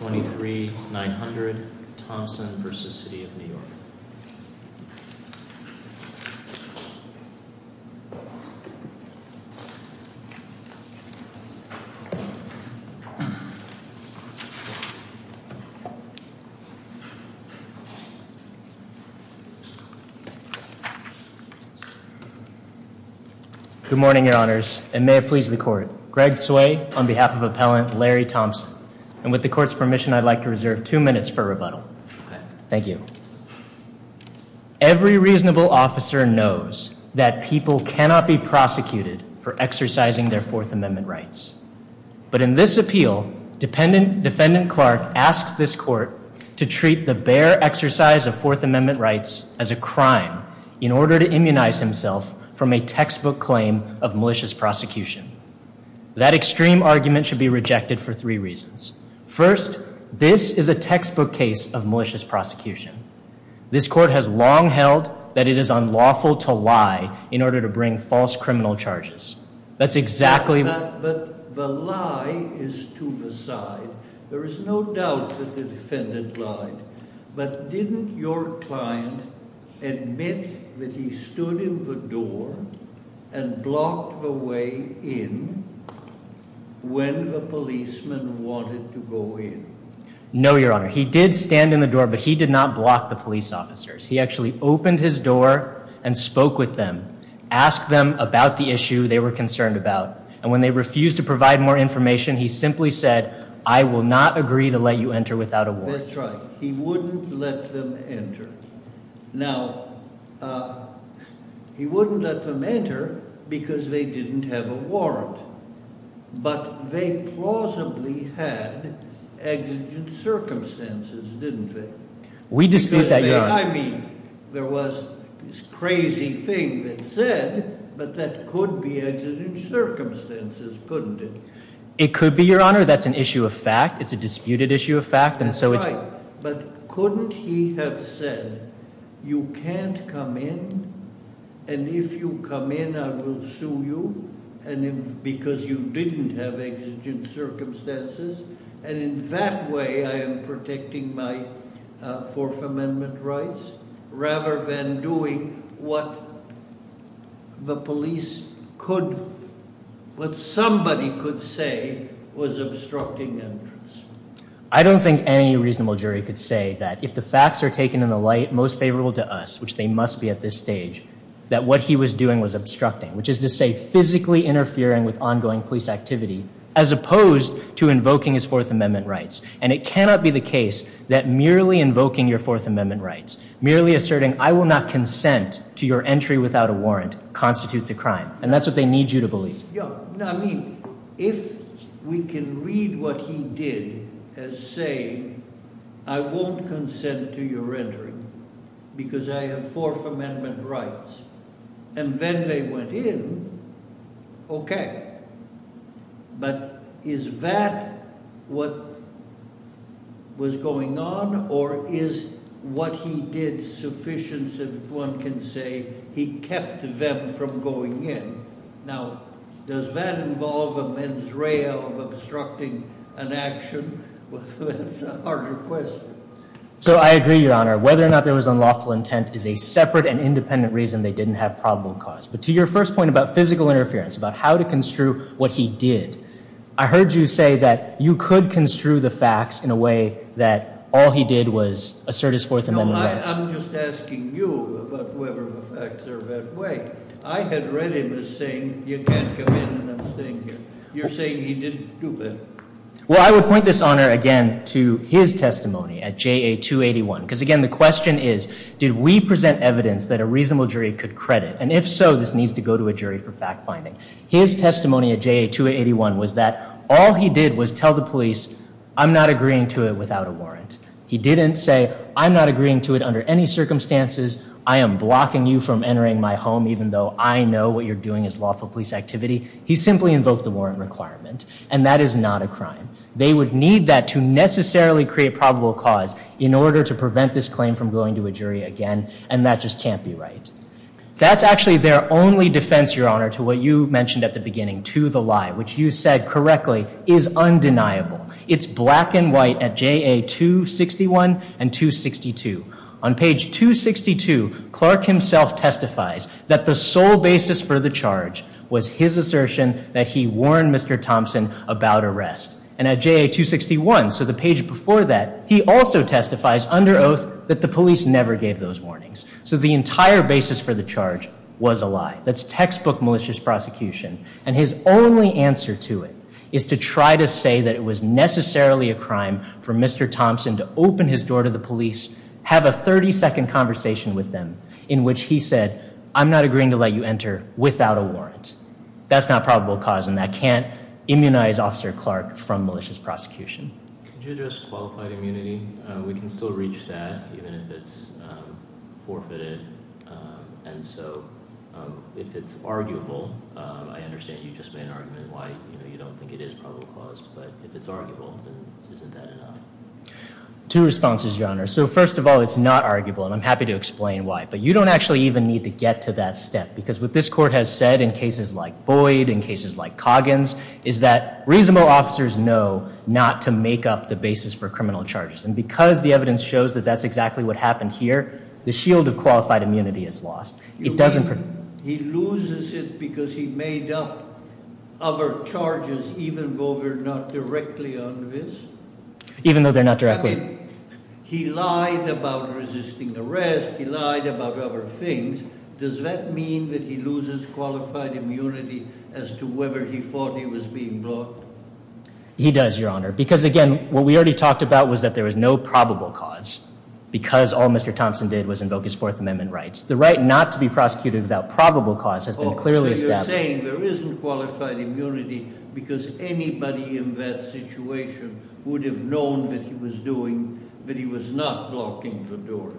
23-900 Thompson v. City of New York Good morning, Your Honors, and may it please the Court. Greg Tsui, on behalf of Appellant Larry Thompson, and with the Court's permission, I'd like to reserve two minutes for rebuttal. Thank you. Every reasonable officer knows that people cannot be prosecuted for exercising their Fourth Amendment rights. But in this appeal, Defendant Clark asks this Court to treat the bare exercise of Fourth Amendment rights as a crime in order to immunize himself from a textbook claim of malicious prosecution. That extreme argument should be rejected for three reasons. First, this is a textbook case of malicious prosecution. This Court has long held that it is unlawful to lie in order to bring false criminal charges. That's exactly- But the lie is to the side. There is no doubt that the defendant lied. But didn't your client admit that he stood in the door and blocked the way in when the policeman wanted to go in? No, Your Honor. He did stand in the door, but he did not block the police officers. He actually opened his door and spoke with them, asked them about the issue they were concerned about. And when they refused to provide more information, he simply said, I will not agree to let you enter without a warrant. That's right. He wouldn't let them enter. Now, he wouldn't let them enter because they didn't have a warrant. But they plausibly had exigent circumstances, didn't they? We dispute that, Your Honor. I mean, there was this crazy thing that said, but that could be exigent circumstances, couldn't it? It could be, Your Honor. That's an issue of fact. It's a disputed issue of fact. And so But couldn't he have said, you can't come in, and if you come in, I will sue you, because you didn't have exigent circumstances. And in that way, I am protecting my Fourth Amendment rights, rather than doing what the police could, what somebody could say was obstructing entrance. I don't think any reasonable jury could say that if the facts are taken in the light most favorable to us, which they must be at this stage, that what he was doing was obstructing, which is to say physically interfering with ongoing police activity, as opposed to invoking his Fourth Amendment rights. And it cannot be the case that merely invoking your Fourth Amendment rights, merely asserting, I will not consent to your entry without a warrant, constitutes a crime. And that's what they need you to believe. Yeah, I mean, if we can read what he did as saying, I won't consent to your entering, because I have Fourth Amendment rights. And then they went in. Okay. But is that what was going on? Or is what he did sufficient that one can say, he kept them from going in? Now, does that involve a mens rea of obstructing an action? That's a harder question. So I agree, Your Honor, whether or not there was unlawful intent is a separate and independent reason they didn't have probable cause. But to your first point about physical interference, about how to construe what he did, I heard you say that you could construe the facts in a way that all he did was assert his Fourth Amendment rights. I'm just asking you about whether the facts are that way. I had read him as saying, you can't come in and I'm staying here. You're saying he didn't do that? Well, I would point this, Honor, again, to his testimony at JA 281. Because again, the question is, did we present evidence that a reasonable jury could credit? And if so, this needs to go to a jury for fact finding. His testimony at JA 281 was that all he did was tell the police, I'm not agreeing to it without a warrant. He didn't say, I'm not agreeing to it under any circumstances. I am blocking you from entering my home, even though I know what you're doing is lawful police activity. He simply invoked the warrant requirement. And that is not a crime. They would need that to necessarily create probable cause in order to prevent this claim from going to a jury again. And that just can't be right. That's actually their only defense, Your Honor, to what you mentioned at the beginning, to the lie, which you said correctly, is undeniable. It's black and white at JA 261 and 262. On page 262, Clark himself testifies that the sole basis for the charge was his assertion that he warned Mr. Thompson about arrest. And at JA 261, so the page before that, he also testifies under oath that the police never gave those warnings. So the entire basis for the charge was a lie. That's textbook malicious prosecution. And his only answer to it is to try to say that it was necessarily a crime for Mr. Thompson to open his door to the police, have a 30 second conversation with them, in which he said, I'm not agreeing to let you enter without a warrant. That's not probable cause. And that can't immunize Officer Clark from malicious prosecution. Could you address qualified immunity? We can still reach that, even if it's forfeited. And so if it's arguable, I understand you just made an argument why you don't think it is probable cause. But if it's arguable, isn't that enough? Two responses, Your Honor. So first of all, it's not arguable, and I'm happy to explain why. But you don't actually even need to get to that step. Because what this court has said in cases like Boyd, in cases like Coggins, is that reasonable officers know not to make up the basis for criminal charges. And because the evidence shows that that's exactly what happened here, the shield of qualified immunity is lost. It doesn't make up other charges, even though they're not directly on this? Even though they're not directly? I mean, he lied about resisting arrest. He lied about other things. Does that mean that he loses qualified immunity as to whether he thought he was being blocked? He does, Your Honor. Because again, what we already talked about was that there was no probable cause. Because all Mr. Thompson did was invoke his Fourth Amendment rights. The right not to be prosecuted without probable cause has been clearly established. Oh, so you're saying there isn't qualified immunity because anybody in that situation would have known that he was doing, that he was not blocking the door?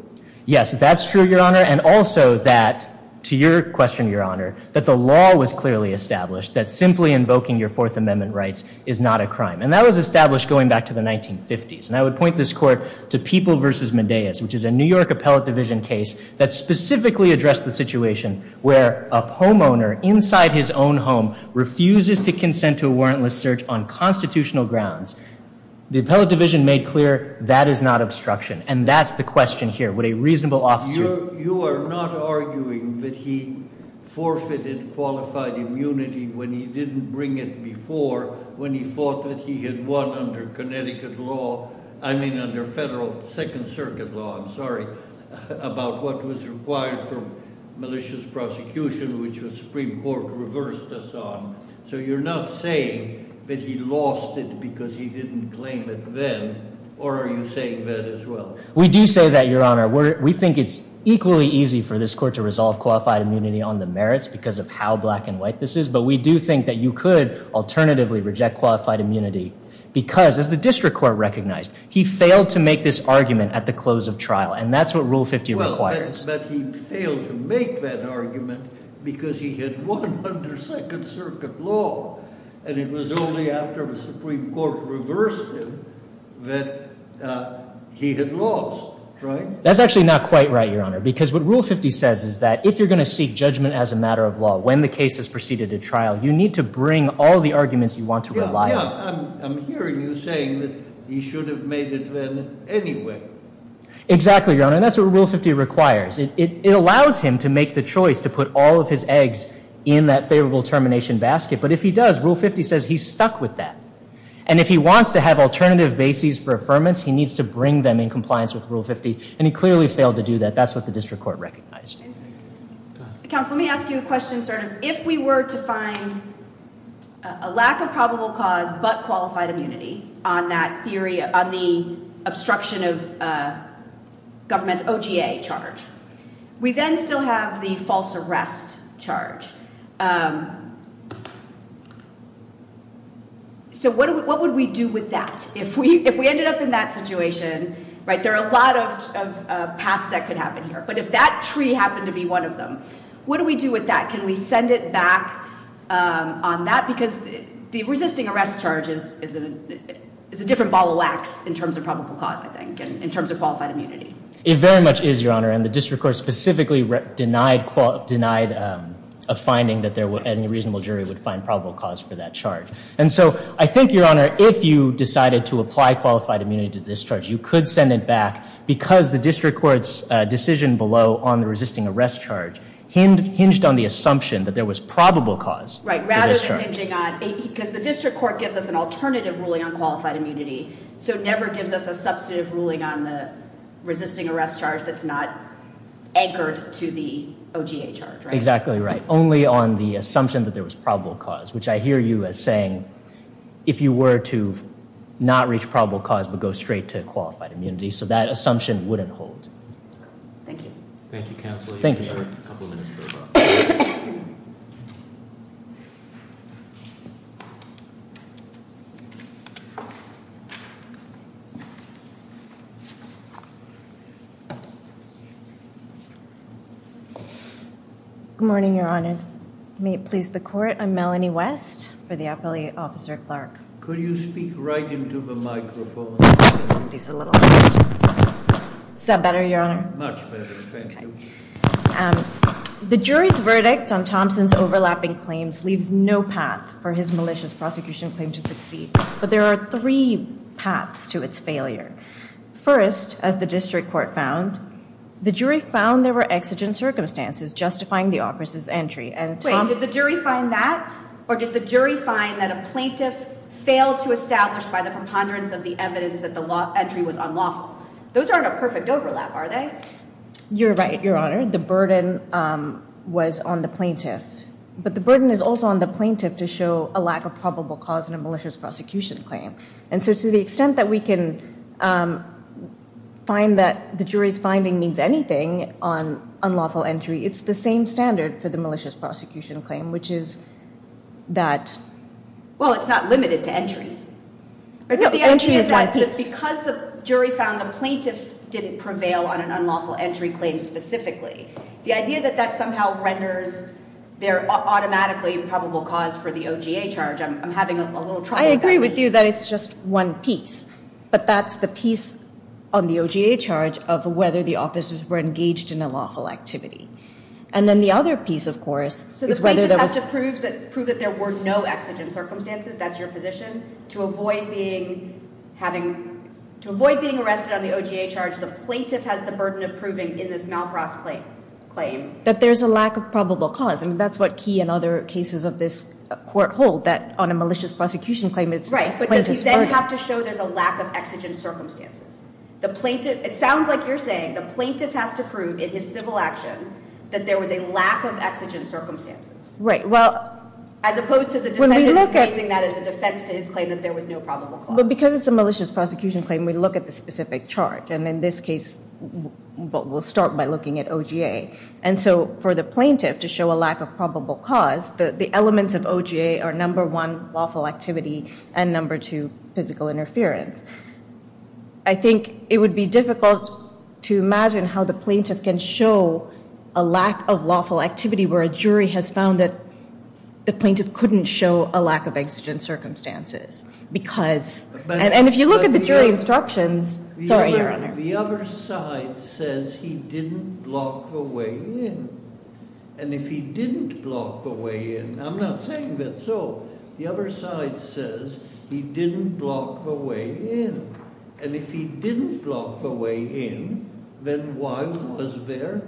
Yes, that's true, Your Honor. And also that, to your question, Your Honor, that the law was clearly established, that simply invoking your Fourth Amendment rights is not a crime. And that was established going back to the 1950s. And I would point this court to People v. Medeiros, which is a New York Appellate Division case that specifically addressed the situation where a homeowner inside his own home refuses to consent to a warrantless search on constitutional grounds. The Appellate Division made clear that is not obstruction. And that's the question here. Would a reasonable officer You are not arguing that he forfeited qualified immunity when he didn't bring it before when he thought that he had won under Connecticut law. I mean, under federal Second Circuit law. I'm sorry about what was required for malicious prosecution, which was Supreme Court reversed us on. So you're not saying that he lost it because he didn't claim it then? Or are you saying that as well? We do say that, Your Honor, we think it's equally easy for this court to resolve qualified immunity on the merits because of how black and white this is. But we do think that you could alternatively reject qualified immunity because as the district court recognized, he failed to make this argument at the close of trial. And that's what Rule 50 requires. But he failed to make that argument because he had won under Second Circuit law. And it was only after the Supreme Court reversed him that he had lost. That's actually not quite right, Your Honor, because what Rule 50 says is that if you're going to seek judgment as a matter of law when the case has proceeded to trial, you need to bring all the arguments you want to rely on. Yeah, I'm hearing you saying that he should have made it then anyway. Exactly, Your Honor. And that's what Rule 50 requires. It allows him to make the choice to put all of his eggs in that favorable termination basket. But if he does, Rule 50 says he's stuck with that. And if he wants to have alternative bases for affirmance, he needs to bring them in compliance with Rule 50. And he clearly failed to do that. That's what the district court recognized. Counsel, let me ask you a question, sort of. If we were to find a lack of probable cause but qualified immunity on that theory on the obstruction of government OGA charge, we then still have the false arrest charge. So what would we do with that? If we ended up in that situation, right, there are a lot of paths that could happen here. But if that tree happened to be one of them, what do we do with that? Can we send it back on that? Because the resisting arrest charge is a different ball of wax in terms of probable cause, I think, in terms of qualified immunity. It very much is, Your Honor. And the district court specifically denied a finding that any reasonable jury would find probable cause for that charge. And so I think, Your Honor, if you decided to apply qualified immunity to this charge, you could send it back because the district court's decision below on the resisting arrest charge hinged on the assumption that there was probable cause. Right. Rather than hinging on, because the district court gives us an alternative ruling on qualified immunity, so it never gives us a substantive ruling on the resisting arrest charge that's not anchored to the OGA charge. Exactly right. Only on the assumption that there was probable cause, which I hear you as saying if you were to not reach probable cause but go straight to qualified immunity. So that assumption wouldn't hold. Thank you. Thank you, Counselor. Thank you, Your Honor. Good morning, Your Honors. May it please the court, I'm Melanie West for the appellate officer at Clark. Could you speak right into the microphone? Is that better, Your Honor? Much better, thank you. The jury's verdict on Thompson's overlapping claims leaves no path for his malicious prosecution claim to succeed. But there are three paths to its failure. First, as the district court found, the jury found there were exigent circumstances justifying the officer's entry. Wait, did the jury find that or did the jury find that a plaintiff failed to establish by the preponderance of the evidence that the entry was unlawful? Those aren't a perfect overlap, are they? You're right, Your Honor. The burden was on the plaintiff. But the burden is also on the plaintiff to show a lack of probable cause in a malicious prosecution claim. And so to the extent that we can find that the jury's finding means anything on unlawful entry, it's the same standard for the malicious prosecution claim, which is that, well, it's not limited to entry. No, entry is one piece. Because the jury found the plaintiff didn't prevail on an unlawful entry claim specifically, the idea that that somehow renders there automatically probable cause for the OGA charge, I'm having a little trouble with that. I agree with you that it's just one piece, but that's the piece on the OGA charge of whether the officers were engaged in unlawful activity. And then the other piece, of course, is whether there was... So the plaintiff has to prove that there were no exigent circumstances, that's your position, to avoid being arrested on the OGA charge, the plaintiff has the burden of proving in this malprossed claim... That there's a lack of probable cause. I mean, that's what Key and other cases of this court hold, that on a malicious prosecution claim it's... Right, but does he then have to show there's a lack of exigent circumstances? The plaintiff... It sounds like you're saying the plaintiff has to prove in his civil action that there was a lack of exigent circumstances. Right, well... As opposed to the defendant using that as a defense to his claim that there was no probable cause. But because it's a malicious prosecution claim, we look at the specific charge, and in this case, we'll start by looking at OGA. And so for the plaintiff to show a lack of probable cause, the elements of OGA are number two, physical interference. I think it would be difficult to imagine how the plaintiff can show a lack of lawful activity where a jury has found that the plaintiff couldn't show a lack of exigent circumstances, because... And if you look at the jury instructions... Sorry, Your Honor. The other side says he didn't block the way in, and if he didn't block the way in, I'm not saying that's so. The other side says he didn't block the way in, and if he didn't block the way in, then why was there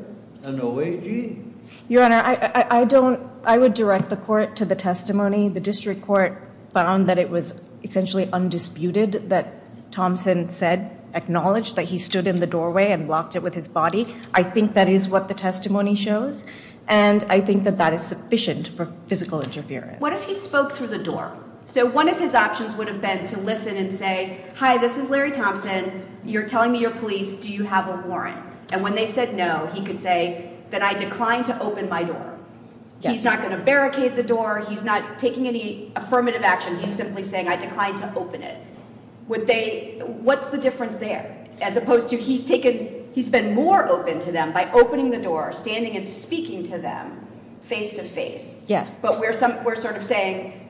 an OAG? Your Honor, I don't... I would direct the court to the testimony. The district court found that it was essentially undisputed that Thompson said, acknowledged that he stood in the doorway and blocked it with his body. I think that is what the testimony shows, and I think that that is sufficient for physical interference. What if he spoke through the door? So one of his options would have been to listen and say, hi, this is Larry Thompson. You're telling me you're police. Do you have a warrant? And when they said no, he could say that I declined to open my door. He's not going to barricade the door. He's not taking any affirmative action. He's simply saying I declined to open it. Would they... What's the difference there? As opposed to he's taken... By opening the door, standing and speaking to them face to face. Yes. But we're sort of saying,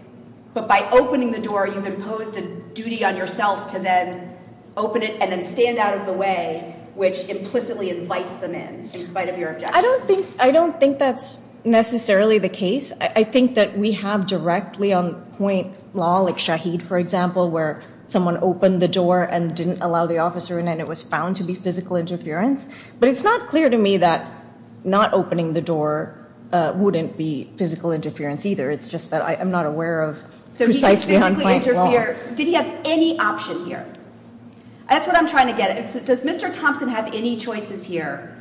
but by opening the door, you've imposed a duty on yourself to then open it and then stand out of the way, which implicitly invites them in, in spite of your objection. I don't think that's necessarily the case. I think that we have directly on point law, like Shaheed, for example, where someone opened the door and didn't allow the officer in, and it was found to be physical interference. But it's not clear to me that not opening the door wouldn't be physical interference either. It's just that I'm not aware of precisely on point law. Did he have any option here? That's what I'm trying to get at. Does Mr. Thompson have any choices here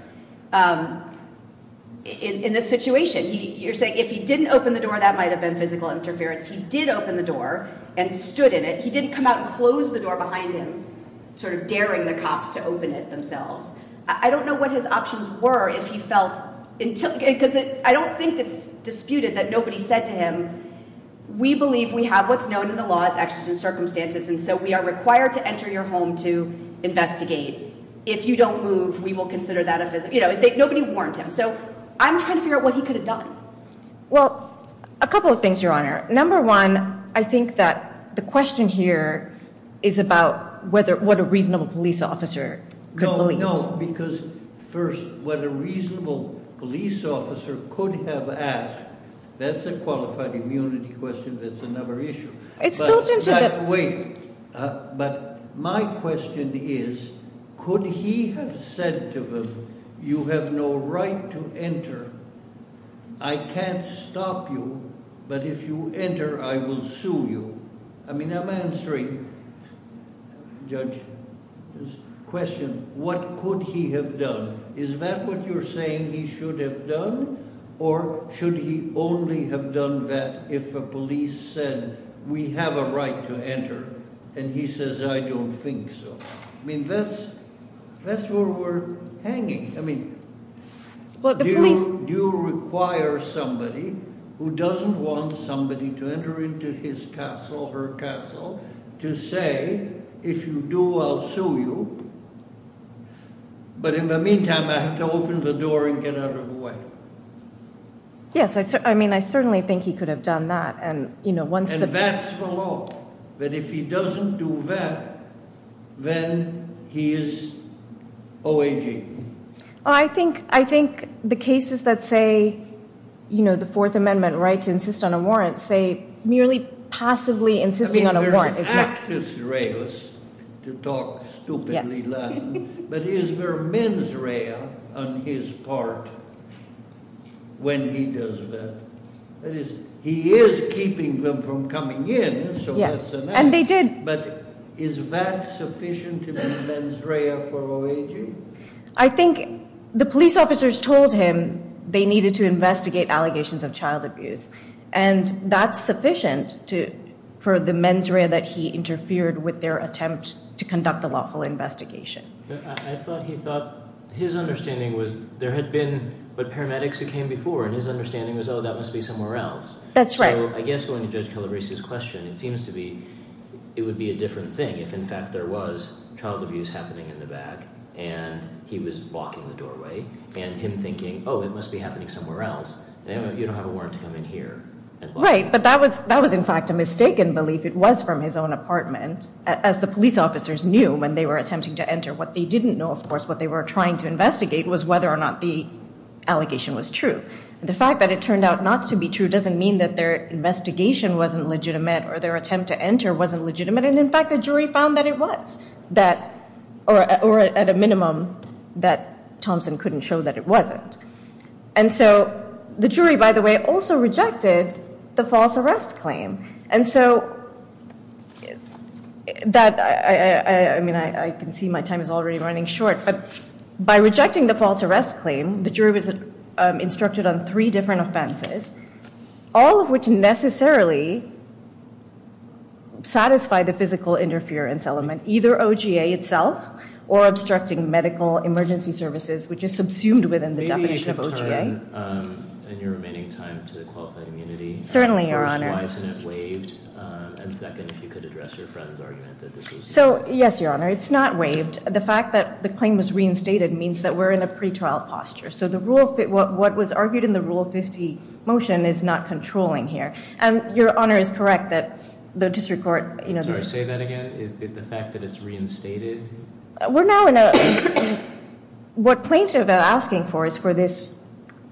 in this situation? You're saying if he didn't open the door, that might have been physical interference. He did open the door and stood in it. He didn't come out and close the door behind him, daring the cops to open it themselves. I don't know what his options were if he felt... I don't think it's disputed that nobody said to him, we believe we have what's known in the law as extrajudicial circumstances, and so we are required to enter your home to investigate. If you don't move, we will consider that a physical... Nobody warned him. So I'm trying to figure out what he could have done. Well, a couple of things, Your Honor. Number one, I think that the question here is about what a reasonable police officer could believe. No, no, because first, what a reasonable police officer could have asked, that's a qualified immunity question, that's another issue. It's built into the... Wait, but my question is, could he have said to them, you have no right to enter. I can't stop you, but if you enter, I will sue you. I mean, I'm answering, Judge, this question, what could he have done? Is that what you're saying he should have done, or should he only have done that if a police said, we have a right to enter, and he says, I don't think so. I mean, that's where we're hanging. I mean, do you require somebody who doesn't want somebody to enter into his castle, her castle, to say, if you do, I'll sue you, but in the meantime, I have to open the door and get out of the way. Yes, I mean, I certainly think he could have done that, and you know, once the... Then he is OIG. I think the cases that say, you know, the Fourth Amendment right to insist on a warrant, say merely passively insisting on a warrant is not... I mean, there's actus reus to talk stupidly Latin, but is there mens rea on his part when he does that? That is, he is keeping them from coming in, so yes, and they did, but is that sufficient to be mens rea for OIG? I think the police officers told him they needed to investigate allegations of child abuse, and that's sufficient for the mens rea that he interfered with their attempt to conduct a lawful investigation. I thought he thought, his understanding was there had been, but paramedics who came before, and his understanding was, oh, that must be somewhere else. That's right. I guess going to Judge Calabresi's question, it seems to be, it would be a different thing if, in fact, there was child abuse happening in the back, and he was blocking the doorway, and him thinking, oh, it must be happening somewhere else, and you don't have a warrant to come in here. Right, but that was in fact a mistaken belief. It was from his own apartment, as the police officers knew when they were attempting to enter. What they didn't know, of course, what they were trying to investigate was whether or not the allegation was true, and the fact that it turned out not to be true doesn't mean that their investigation wasn't legitimate, or their attempt to enter wasn't legitimate, and in fact, the jury found that it was, or at a minimum, that Thompson couldn't show that it wasn't, and so the jury, by the way, also rejected the false arrest claim, and so that, I mean, I can see my time is already running short, but by rejecting the false arrest claim, I'm not going to necessarily satisfy the physical interference element, either OGA itself, or obstructing medical emergency services, which is subsumed within the definition of OGA. Maybe you can turn in your remaining time to the qualified immunity. Certainly, Your Honor. First, why isn't it waived, and second, if you could address your friend's argument that this was waived. So, yes, Your Honor, it's not waived. The fact that the claim was reinstated means that we're in a pretrial posture, so the rule, what was argued in the Rule 50 motion, is not controlling here, and Your Honor is correct that the district court, you know, say that again, the fact that it's reinstated. We're now in a, what plaintiff is asking for is for this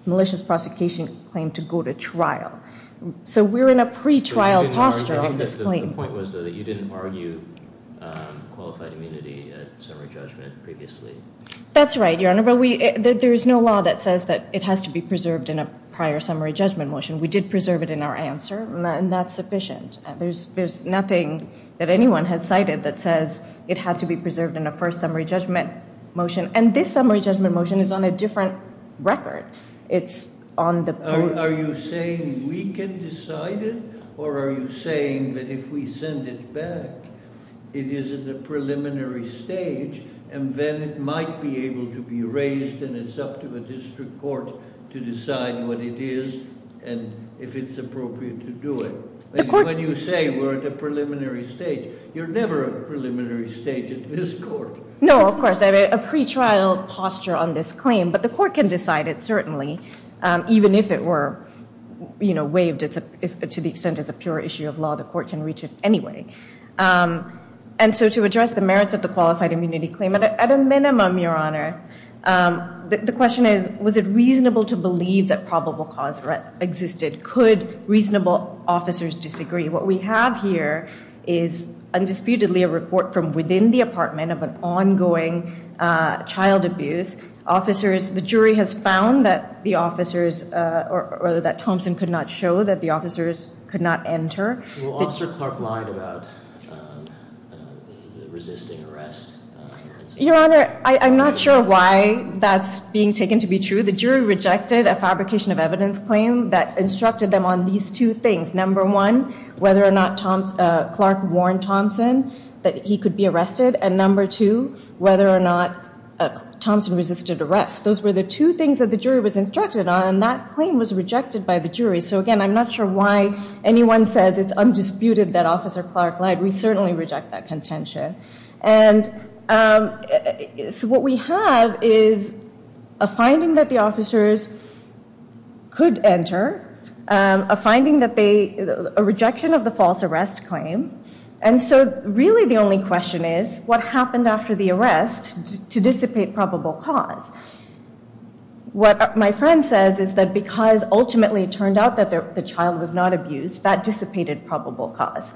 malicious prosecution claim to go to trial, so we're in a pretrial posture on this claim. The point was, though, that you didn't argue qualified immunity at summary judgment previously. That's right, Your Honor, but we, there is no law that says that it has to be preserved in a prior summary judgment motion. We did preserve it in our answer, and that's sufficient. There's nothing that anyone has cited that says it had to be preserved in a first summary judgment motion, and this summary judgment motion is on a different record. It's on the- Are you saying we can decide it, or are you saying that if we send it back, it is at the preliminary stage, and then it might be able to be raised, and it's up to a district court to decide what it is and if it's appropriate to do it? When you say we're at a preliminary stage, you're never at a preliminary stage at this court. No, of course, a pretrial posture on this claim, but the court can decide it, certainly, even if it were, you know, waived to the extent it's a pure issue of law. The court can reach it anyway, and so to address the merits of the reasonable to believe that probable cause existed, could reasonable officers disagree? What we have here is undisputedly a report from within the apartment of an ongoing child abuse. Officers, the jury has found that the officers, or that Thompson could not show that the officers could not enter. Well, Officer Clark lied about resisting arrest. Your Honor, I'm not sure why that's being taken to be true. The jury rejected a fabrication of evidence claim that instructed them on these two things. Number one, whether or not Clark warned Thompson that he could be arrested, and number two, whether or not Thompson resisted arrest. Those were the two things that the jury was instructed on, and that claim was rejected by the jury. So again, I'm not sure why anyone says it's undisputed that Officer Clark lied. We certainly reject that contention, and so what we have is a finding that the officers could enter, a finding that they, a rejection of the false arrest claim, and so really the only question is, what happened after the arrest to dissipate probable cause? What my friend says is that because ultimately it turned out that the child was not abused, that dissipated probable cause.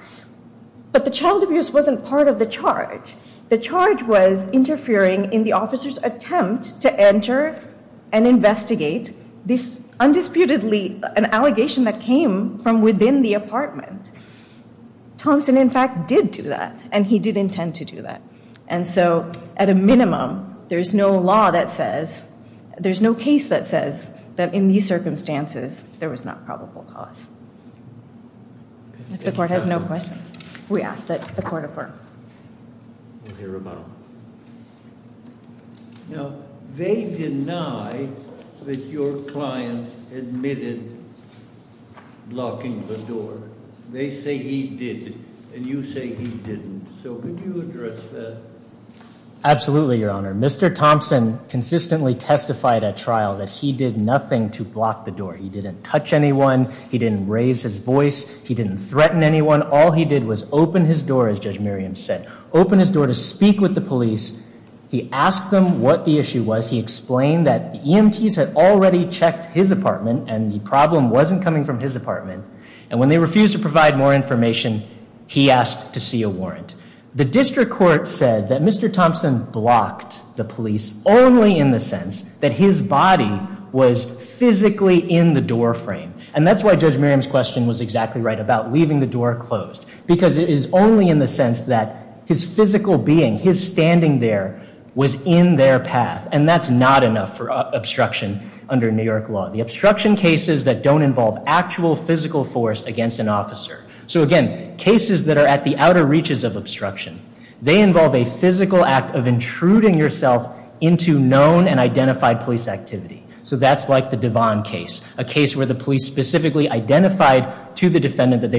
But the child abuse wasn't part of the charge. The charge was interfering in the officer's attempt to enter and investigate this undisputedly, an allegation that came from within the apartment. Thompson in fact did do that, and he did intend to do that, and so at a minimum, there's no law that says, there's no case that says that in these circumstances, there was not probable cause. If the court has no questions, we ask that the court affirm. Now they deny that your client admitted locking the door. They say he did, and you say he didn't. So could you address that? Absolutely, your honor. Mr. Thompson consistently testified at trial that he did nothing to block the door. He didn't touch anyone. He didn't raise his voice. He didn't threaten anyone. All he did was open his door, as Judge Miriam said, open his door to speak with the police. He asked them what the issue was. He explained that the EMTs had already checked his apartment, and the problem wasn't coming from his apartment, and when they refused to provide more information, he asked to see a warrant. The district court said that Mr. Thompson blocked the police only in the sense that his body was physically in the doorframe, and that's why Judge Miriam's question was exactly right about leaving the door closed, because it is only in the sense that his physical being, his standing there, was in their path, and that's not enough for obstruction under New York law. The obstruction cases that don't involve actual physical force against an officer. So again, cases that are at the outer reaches of obstruction, they involve a physical act of intruding yourself into known and identified police activity. So that's like the Devon case, a case where the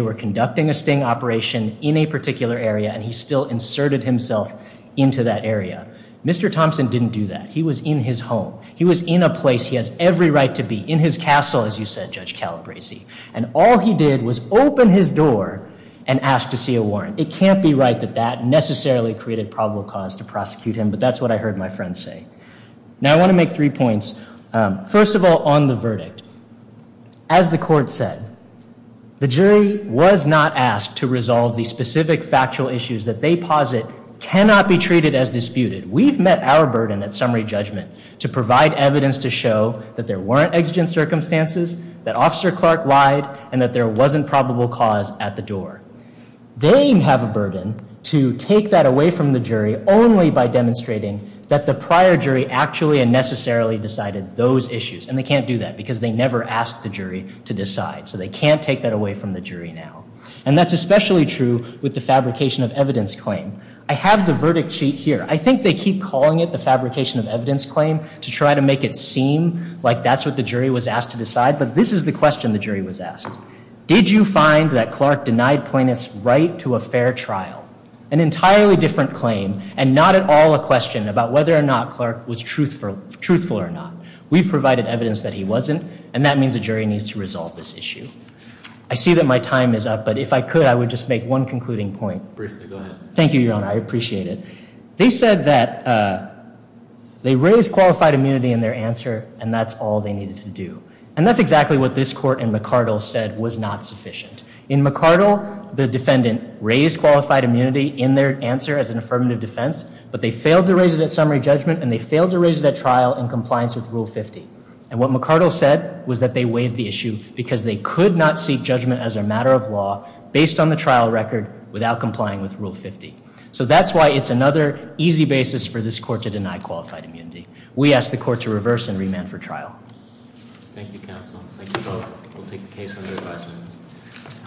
were conducting a sting operation in a particular area, and he still inserted himself into that area. Mr. Thompson didn't do that. He was in his home. He was in a place he has every right to be, in his castle, as you said, Judge Calabresi, and all he did was open his door and ask to see a warrant. It can't be right that that necessarily created probable cause to prosecute him, but that's what I heard my friend say. Now I want to make three points. First of all, on the verdict, as the court said, the jury was not asked to resolve the specific factual issues that they posit cannot be treated as disputed. We've met our burden at summary judgment to provide evidence to show that there weren't exigent circumstances, that Officer Clark lied, and that there wasn't probable cause at the door. They have a burden to take that away from the jury only by demonstrating that the prior jury actually and necessarily decided those issues, and they can't do that because they never asked the jury to decide, so they can't take that away from the jury now, and that's especially true with the fabrication of evidence claim. I have the verdict sheet here. I think they keep calling it the fabrication of evidence claim to try to make it seem like that's what the jury was asked to decide, but this is the question the jury was asked. Did you find that Clark denied plaintiffs right to a fair trial? An entirely different claim, and not at all a question about whether or not Clark was truthful or not. We've provided evidence that he wasn't, and that means the jury needs to resolve this issue. I see that my time is up, but if I could, I would just make one concluding point. Briefly, go ahead. Thank you, Your Honor. I appreciate it. They said that they raised qualified immunity in their answer, and that's all they needed to do, and that's exactly what this court in McArdle said was not sufficient. In McArdle, the defendant raised qualified immunity in their answer as an affirmative defense, but they failed to raise that summary judgment, and they failed to raise that trial in compliance with Rule 50. And what McArdle said was that they waived the issue because they could not seek judgment as a matter of law based on the trial record without complying with Rule 50. So that's why it's another easy basis for this court to deny qualified immunity. We ask the court to reverse and remand for trial. Thank you, counsel. Thank you both. We'll take the case under advisement.